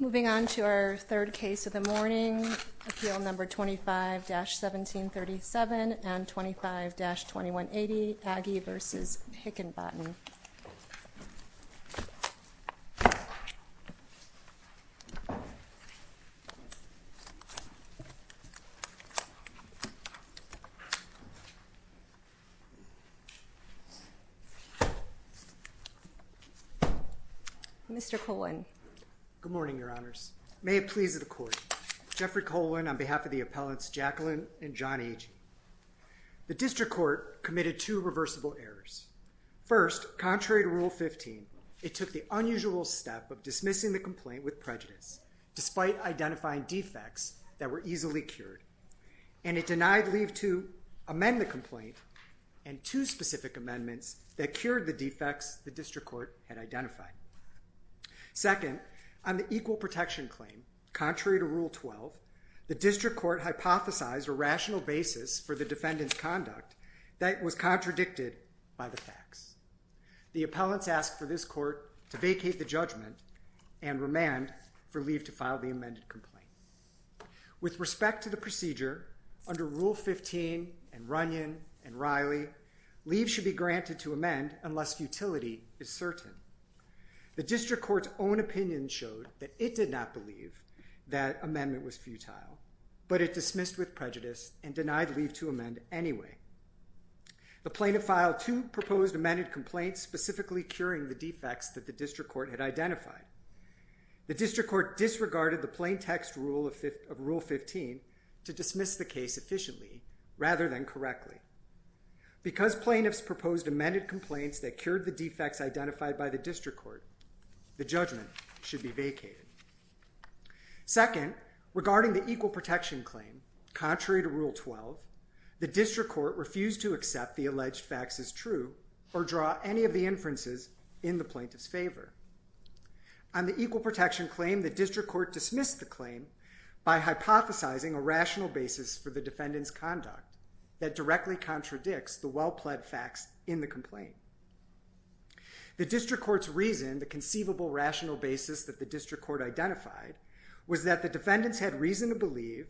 Moving on to our third case of the morning, Appeal Number 25-1737 and 25-2180 Agee v. Hickenbottom. Page Hickenbottom Good morning, Your Honors. May it please the Court, Jeffrey Colan on behalf of the Appellants Jacqueline and John Agee. The District Court committed two reversible errors. First, contrary to Rule 15, it took the unusual step of dismissing the complaint with prejudice despite identifying defects that were easily cured, and it denied leave to amend the complaint and two specific amendments that cured the defects the District Court had identified. Second, on the equal protection claim, contrary to Rule 12, the District Court hypothesized a rational basis for the defendant's conduct that was contradicted by the facts. The Appellants asked for this Court to vacate the judgment and remand for leave to file the amended complaint. With respect to the procedure, under Rule 15 and Runyon and Riley, leave should be granted to amend unless futility is certain. The District Court's own opinion showed that it did not believe that amendment was futile, but it dismissed with prejudice and denied leave to amend anyway. The plaintiff filed two proposed amended complaints specifically curing the defects that the District Court had identified. The District Court disregarded the plain text rule of Rule 15 to dismiss the case efficiently rather than correctly. Because plaintiffs proposed amended complaints that cured the defects identified by the District Court, the judgment should be vacated. Second, regarding the equal protection claim, contrary to Rule 12, the District Court refused to accept the alleged facts as true or draw any of the inferences in the plaintiff's favor. On the equal protection claim, the District Court dismissed the claim by hypothesizing a rational basis for the defendant's conduct that directly contradicts the well-pled facts in the complaint. The District Court's reason, the conceivable rational basis that the District Court identified, was that the defendants had reason to believe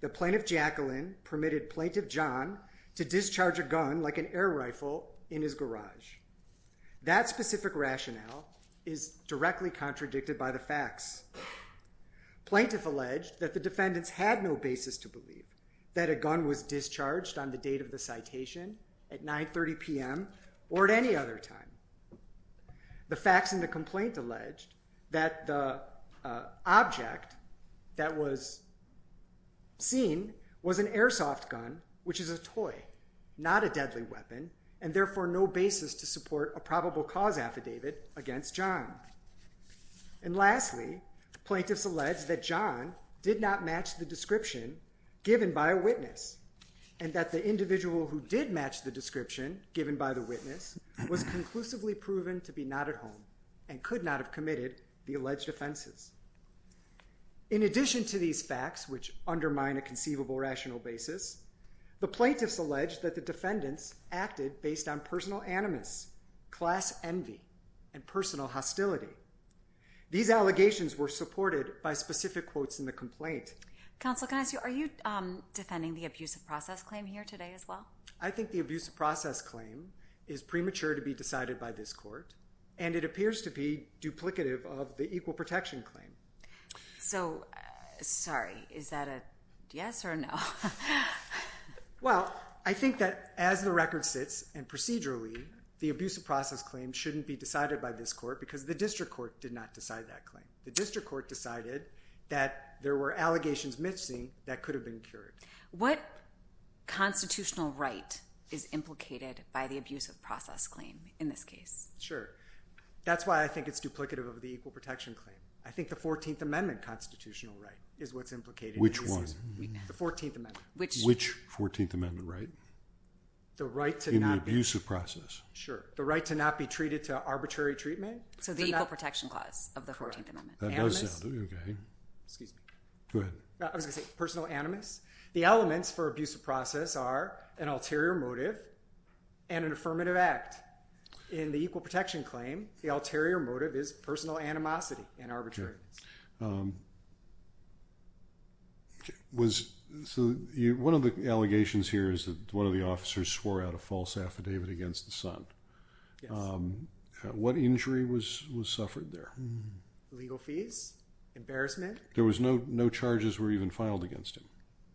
that Plaintiff Jacqueline permitted Plaintiff John to discharge a gun like an air rifle in his garage. That specific rationale is directly contradicted by the facts. Plaintiff alleged that the defendants had no basis to believe that a gun was discharged on the date of the citation, at 9.30 p.m., or at any other time. The facts in the complaint alleged that the object that was seen was an airsoft gun, which is a toy, not a deadly weapon, and therefore no basis to support a probable cause affidavit against John. And lastly, plaintiffs alleged that John did not match the description given by a witness, and that the individual who did match the description given by the witness was conclusively proven to be not at home, and could not have committed the alleged offenses. In addition to these facts, which undermine a conceivable rational basis, the plaintiffs alleged that the defendants acted based on personal animus, class envy, and personal hostility. These allegations were supported by specific quotes in the complaint. Counsel, can I ask you, are you defending the abusive process claim here today as well? I think the abusive process claim is premature to be decided by this court, and it appears to be duplicative of the equal protection claim. So, sorry, is that a yes or a no? Well, I think that as the record sits, and procedurally, the abusive process claim shouldn't be decided by this court, because the district court did not decide that claim. The district court decided that there were allegations missing that could have been cured. What constitutional right is implicated by the abusive process claim in this case? Sure. That's why I think it's duplicative of the equal protection claim. I think the 14th Amendment constitutional right is what's implicated. Which one? The 14th Amendment. Which? Which 14th Amendment right? The right to not be. In the abusive process. Sure. The right to not be treated to arbitrary treatment? So, the equal protection clause of the 14th Amendment. That does sound, okay. Excuse me. Go ahead. I was going to say personal animus. The elements for abusive process are an ulterior motive and an affirmative act. In the equal protection claim, the ulterior motive is personal animosity and arbitrariness. One of the allegations here is that one of the officers swore out a false affidavit against the son. Yes. What injury was suffered there? Legal fees. Embarrassment. There was no charges were even filed against him?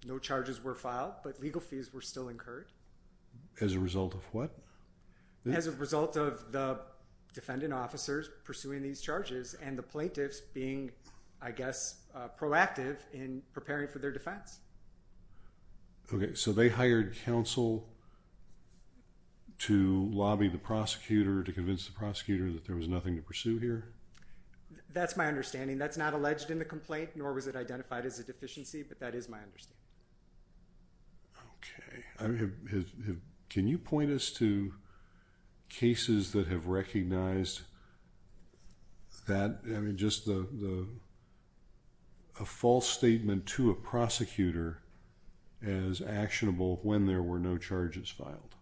No charges were filed, but legal fees were still incurred. As a result of what? As a result of the defendant officers pursuing these charges and the plaintiffs being, I guess, proactive in preparing for their defense. Okay. So, they hired counsel to lobby the prosecutor to convince the prosecutor that there was nothing to pursue here? That's my understanding. That's not alleged in the complaint, nor was it identified as a deficiency, but that is my understanding. Okay. Can you point us to cases that have recognized that, I mean, just a false statement to a prosecutor as actionable when there were no charges filed?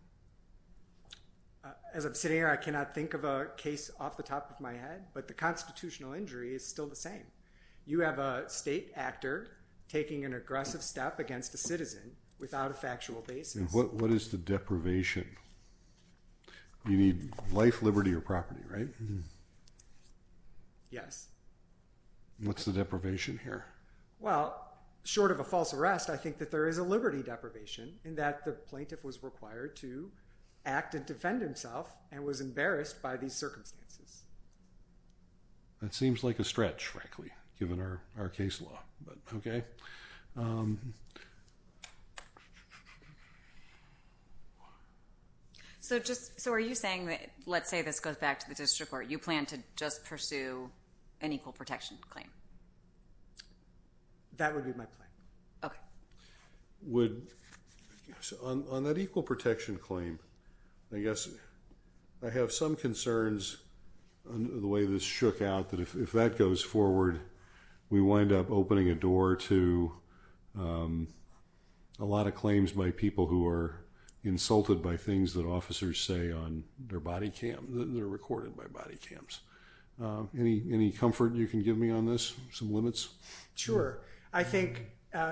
As I'm sitting here, I cannot think of a case off the top of my head, but the constitutional injury is still the same. You have a state actor taking an aggressive step against a citizen without a factual basis. What is the deprivation? You need life, liberty, or property, right? Yes. What's the deprivation here? Well, short of a false arrest, I think that there is a liberty deprivation in that the plaintiff was required to act and defend himself and was embarrassed by these circumstances. That seems like a stretch, frankly, given our case law, but okay. So, are you saying that, let's say this goes back to the district court, you plan to just pursue an equal protection claim? That would be my plan. On that equal protection claim, I guess I have some concerns on the way this shook out that if that goes forward, we wind up opening a door to a lot of claims by people who are insulted by things that officers say on their body cam, that are recorded by body cams. Any comfort you can give me on this? I think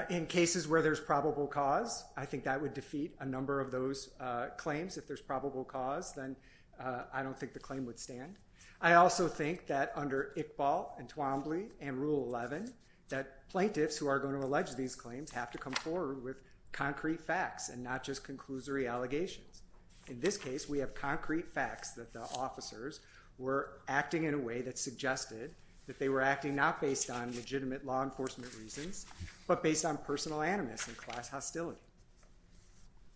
in cases where there's probable cause, I think that would defeat a number of those claims. If there's probable cause, then I don't think the claim would stand. I also think that under Iqbal and Twombly and Rule 11, that plaintiffs who are going to allege these claims have to come forward with concrete facts and not just conclusory allegations. In this case, we have concrete facts that the officers were acting in a way that suggested that they were acting not based on legitimate law enforcement reasons, but based on personal animus and class hostility.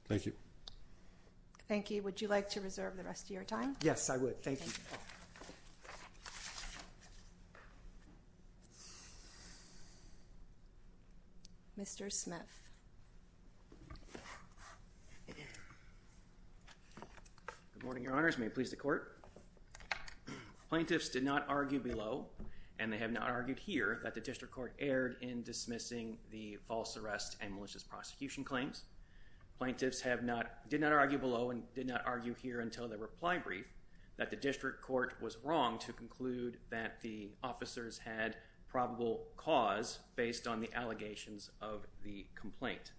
Thank you. Thank you. Would you like to reserve the rest of your time? Yes, I would. Thank you. Mr. Smith. Good morning, your honors. May it please the court. Plaintiffs did not argue below, and they have not argued here, that the district court erred in dismissing the false arrest and malicious prosecution claims. Plaintiffs did not argue below and did not argue here until the reply brief that the district court was wrong to conclude that the officers had probable cause based on the allegations of the complaint.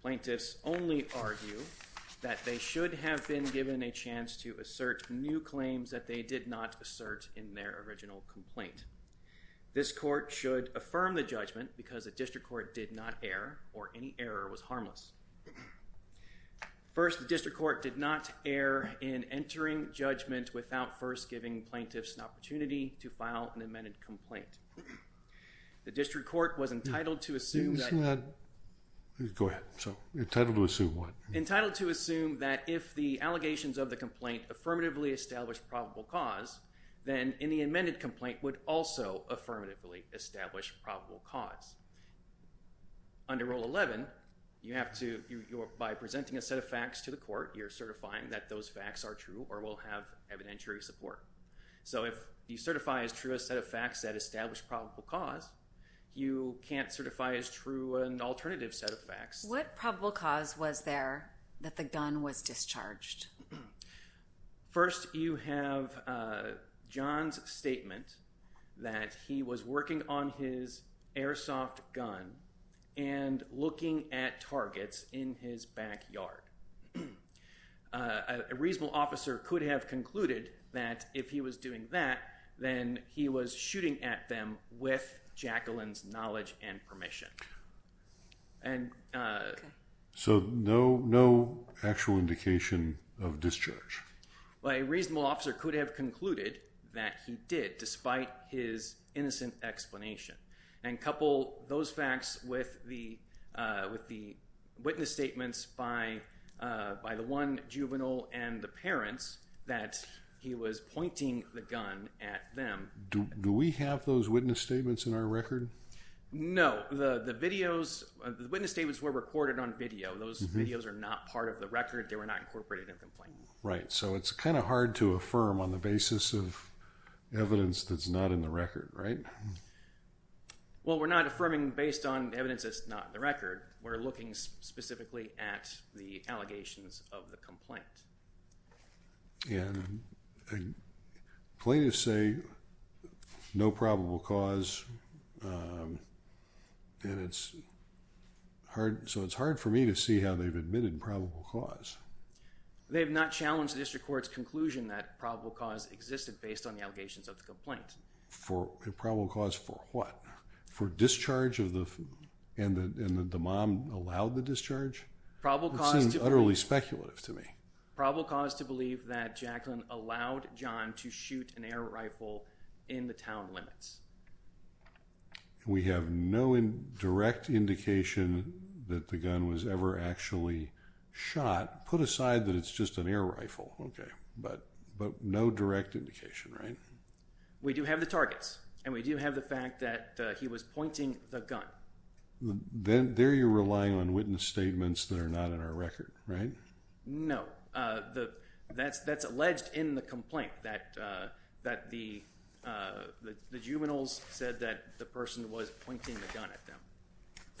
Plaintiffs only argue that they should have been given a chance to assert new claims that they did not assert in their original complaint. This court should affirm the judgment because the district court did not err or any error was harmless. First, the district court did not err in entering judgment without first giving plaintiffs an opportunity to file an amended complaint. The district court was entitled to assume that... Go ahead. Entitled to assume what? Entitled to assume that if the allegations of the complaint affirmatively established probable cause, then in the amended complaint would also affirmatively establish probable cause. Under Rule 11, you have to, by presenting a set of facts to the court, you're certifying that those facts are true or will have evidentiary support. So, if you certify as true a set of facts that establish probable cause, you can't certify as true an alternative set of facts. What probable cause was there that the gun was discharged? First, you have John's statement that he was working on his airsoft gun and looking at targets in his backyard. A reasonable officer could have concluded that if he was doing that, then he was shooting at them with Jacqueline's knowledge and permission. So, no actual indication of discharge? A reasonable officer could have concluded that he did, despite his innocent explanation. Couple those facts with the witness statements by the one juvenile and the parents that he was pointing the gun at them. Do we have those witness statements in our record? No. The witness statements were recorded on video. Those videos are not part of the record. They were not incorporated in the complaint. Right. So, it's kind of hard to affirm on the basis of evidence that's not in the record, right? Well, we're not affirming based on evidence that's not in the record. We're looking specifically at the allegations of the complaint. And plaintiffs say no probable cause, so it's hard for me to see how they've admitted probable cause. They have not challenged the district court's conclusion that probable cause existed based on the allegations of the complaint. Probable cause for what? For discharge and that the mom allowed the discharge? It seems utterly speculative to me. Probable cause to believe that Jacqueline allowed John to shoot an air rifle in the town limits. We have no direct indication that the gun was ever actually shot. Put aside that it's just an air rifle. But no direct indication, right? We do have the targets. And we do have the fact that he was pointing the gun. There you're relying on witness statements that are not in our record, right? No. That's alleged in the complaint that the juveniles said that the person was pointing the gun at them.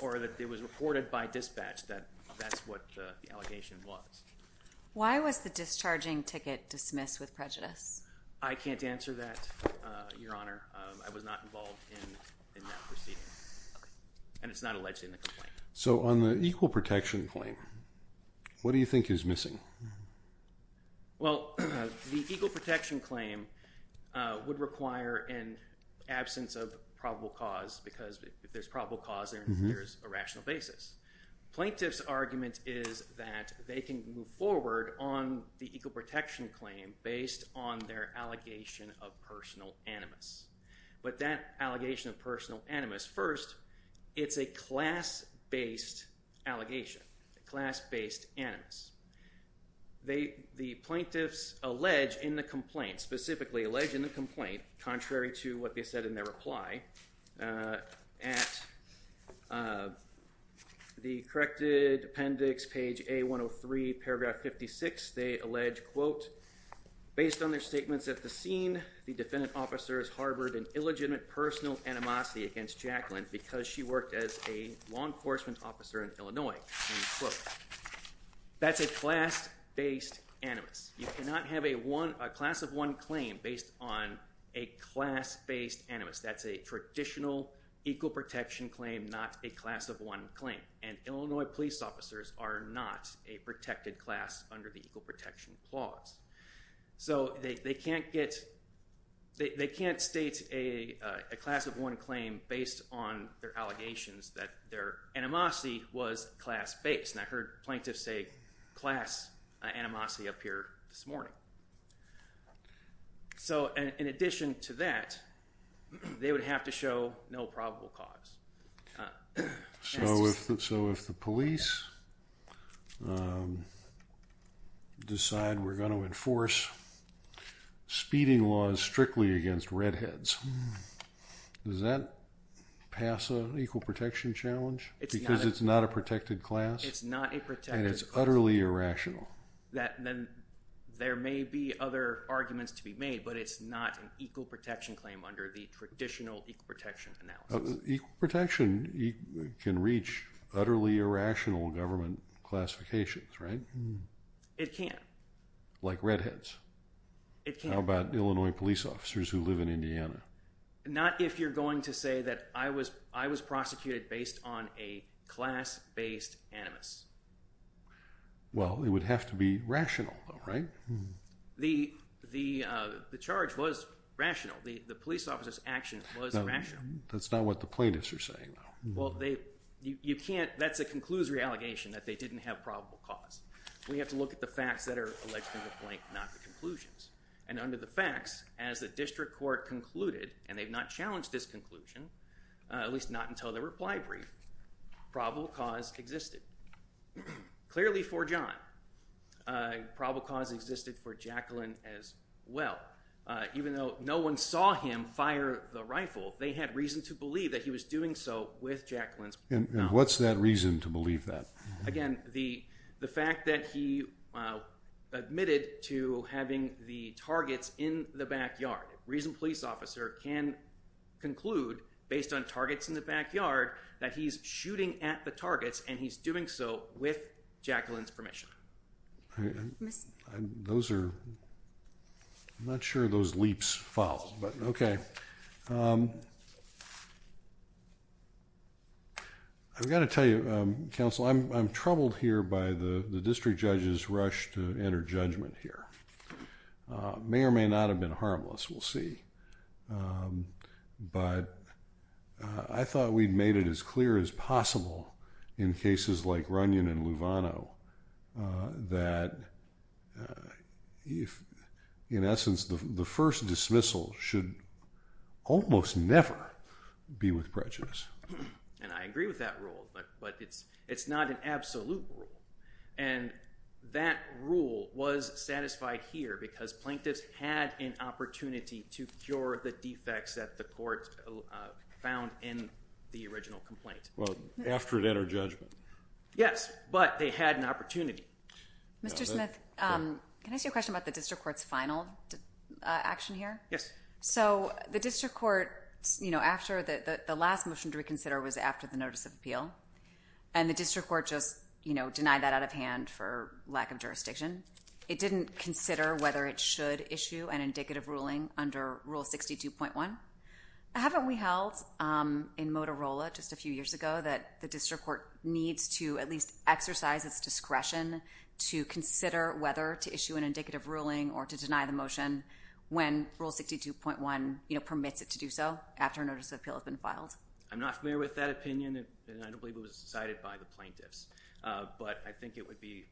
Or that it was reported by dispatch that that's what the allegation was. Why was the discharging ticket dismissed with prejudice? I can't answer that, Your Honor. I was not involved in that proceeding. And it's not alleged in the complaint. So on the equal protection claim, what do you think is missing? Well, the equal protection claim would require an absence of probable cause. Because if there's probable cause, there's a rational basis. Plaintiff's argument is that they can move forward on the equal protection claim based on their allegation of personal animus. But that allegation of personal animus, first, it's a class-based allegation. Class-based animus. The plaintiffs allege in the complaint, specifically allege in the complaint, contrary to what they said in their reply, at the corrected appendix, page A103, paragraph 56, they allege, quote, based on their statements at the scene, the defendant officers harbored an illegitimate personal animosity against Jacqueline because she worked as a law enforcement officer in Illinois. End quote. That's a class-based animus. You cannot have a class of one claim based on a class-based animus. That's a traditional equal protection claim, not a class of one claim. And Illinois police officers are not a protected class under the equal protection clause. So they can't get, they can't state a class of one claim based on their allegations that their animosity was class-based. And I heard plaintiffs say class animosity up here this morning. So in addition to that, they would have to show no probable cause. So if the police decide we're going to enforce speeding laws strictly against redheads, does that pass an equal protection challenge? Because it's not a protected class? It's not a protected class. And it's utterly irrational? There may be other arguments to be made, but it's not an equal protection claim under the traditional equal protection analysis. Equal protection can reach utterly irrational government classifications, right? It can. Like redheads. How about Illinois police officers who live in Indiana? Not if you're going to say that I was prosecuted based on a class-based animus. Well, it would have to be rational, right? The charge was rational. The police officer's action was rational. That's not what the plaintiffs are saying, though. Well, that's a conclusory allegation that they didn't have probable cause. We have to look at the facts that are alleged in the plaintiff, not the conclusions. And under the facts, as the district court concluded, and they've not challenged this conclusion, at least not until the reply brief, probable cause existed. Clearly for John, probable cause existed for Jacqueline as well. Even though no one saw him fire the rifle, they had reason to believe that he was doing so with Jacqueline's permission. And what's that reason to believe that? Again, the fact that he admitted to having the targets in the backyard. A reasoned police officer can conclude, based on targets in the backyard, that he's shooting at the targets and he's doing so with Jacqueline's permission. Those are... I'm not sure those leaps follow, but okay. I've got to tell you, counsel, I'm troubled here by the district judge's rush to enter judgment here. May or may not have been harmless, we'll see. But I thought we'd made it as clear as possible in cases like Runyon and Luvano. That, in essence, the first dismissal should almost never be with prejudice. And I agree with that rule, but it's not an absolute rule. And that rule was satisfied here because plaintiffs had an opportunity to cure the defects that the court found in the original complaint. Well, after it entered judgment. Yes, but they had an opportunity. Mr. Smith, can I ask you a question about the district court's final action here? Yes. So, the district court, after the last motion to reconsider was after the notice of appeal. And the district court just denied that out of hand for lack of jurisdiction. It didn't consider whether it should issue an indicative ruling under Rule 62.1. Haven't we held in Motorola just a few years ago that the district court needs to at least exercise its discretion to consider whether to issue an indicative ruling or to deny the motion when Rule 62.1 permits it to do so after a notice of appeal has been filed? I'm not familiar with that opinion, and I don't believe it was decided by the plaintiffs. But I think it would be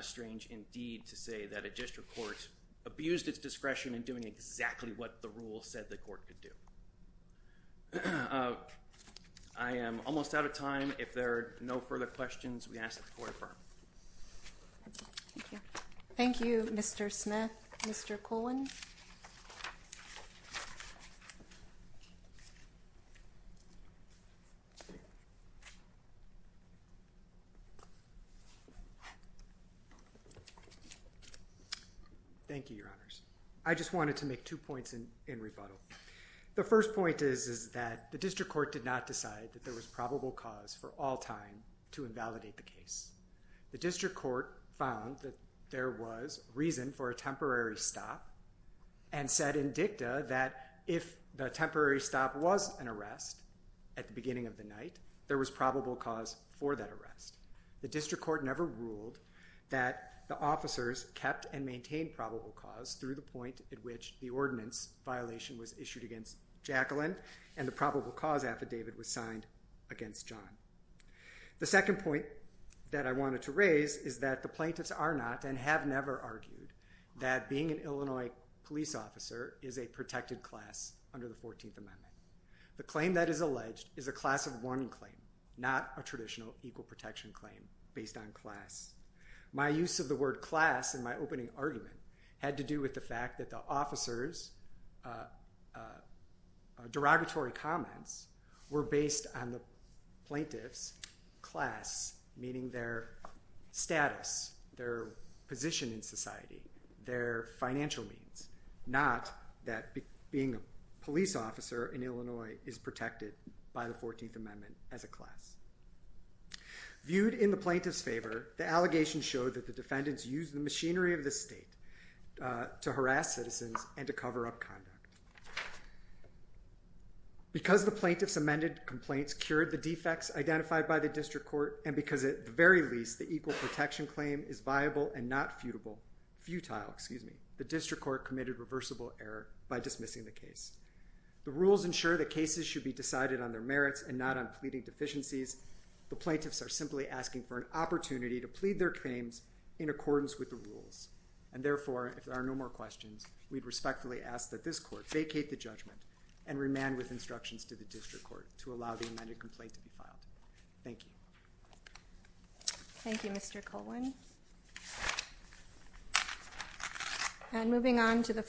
strange, indeed, to say that a district court abused its discretion in doing exactly what the rule said the court could do. I am almost out of time. If there are no further questions, we ask that the court affirm. Thank you. Thank you, Mr. Smith. Mr. Colwin. Thank you, Your Honors. I just wanted to make two points in rebuttal. The first point is that the district court did not decide that there was probable cause for all time to invalidate the case. The district court found that there was reason for a temporary stop and said in dicta that if the temporary stop was an arrest at the beginning of the night, there was probable cause for that arrest. The district court never ruled that the officers kept and maintained probable cause through the point at which the ordinance violation was issued against Jacqueline and the probable cause affidavit was signed against John. The second point that I wanted to raise is that the plaintiffs are not and have never argued that being an Illinois police officer is a protected class under the 14th Amendment. The claim that is alleged is a class of one claim, not a traditional equal protection claim based on class. My use of the word class in my opening argument had to do with the fact that the officers' derogatory comments were based on the plaintiffs' class, meaning their status, their position in society, their financial means, not that being a police officer in Illinois is protected by the 14th Amendment as a class. Viewed in the plaintiffs' favor, the allegations show that the defendants used the machinery of the state to harass citizens and to cover up conduct. Because the plaintiffs' amended complaints cured the defects identified by the District Court and because, at the very least, the equal protection claim is viable and not futile, the District Court committed reversible error by dismissing the case. The rules ensure that cases should be decided on their merits and not on pleading deficiencies. The plaintiffs are simply asking for an opportunity to plead their claims in accordance with the rules. And therefore, if there are no more questions, we respectfully ask that this Court vacate the judgment and remand with instructions to the District Court to allow the amended complaint to be filed. Thank you. Thank you, Mr. Colwin.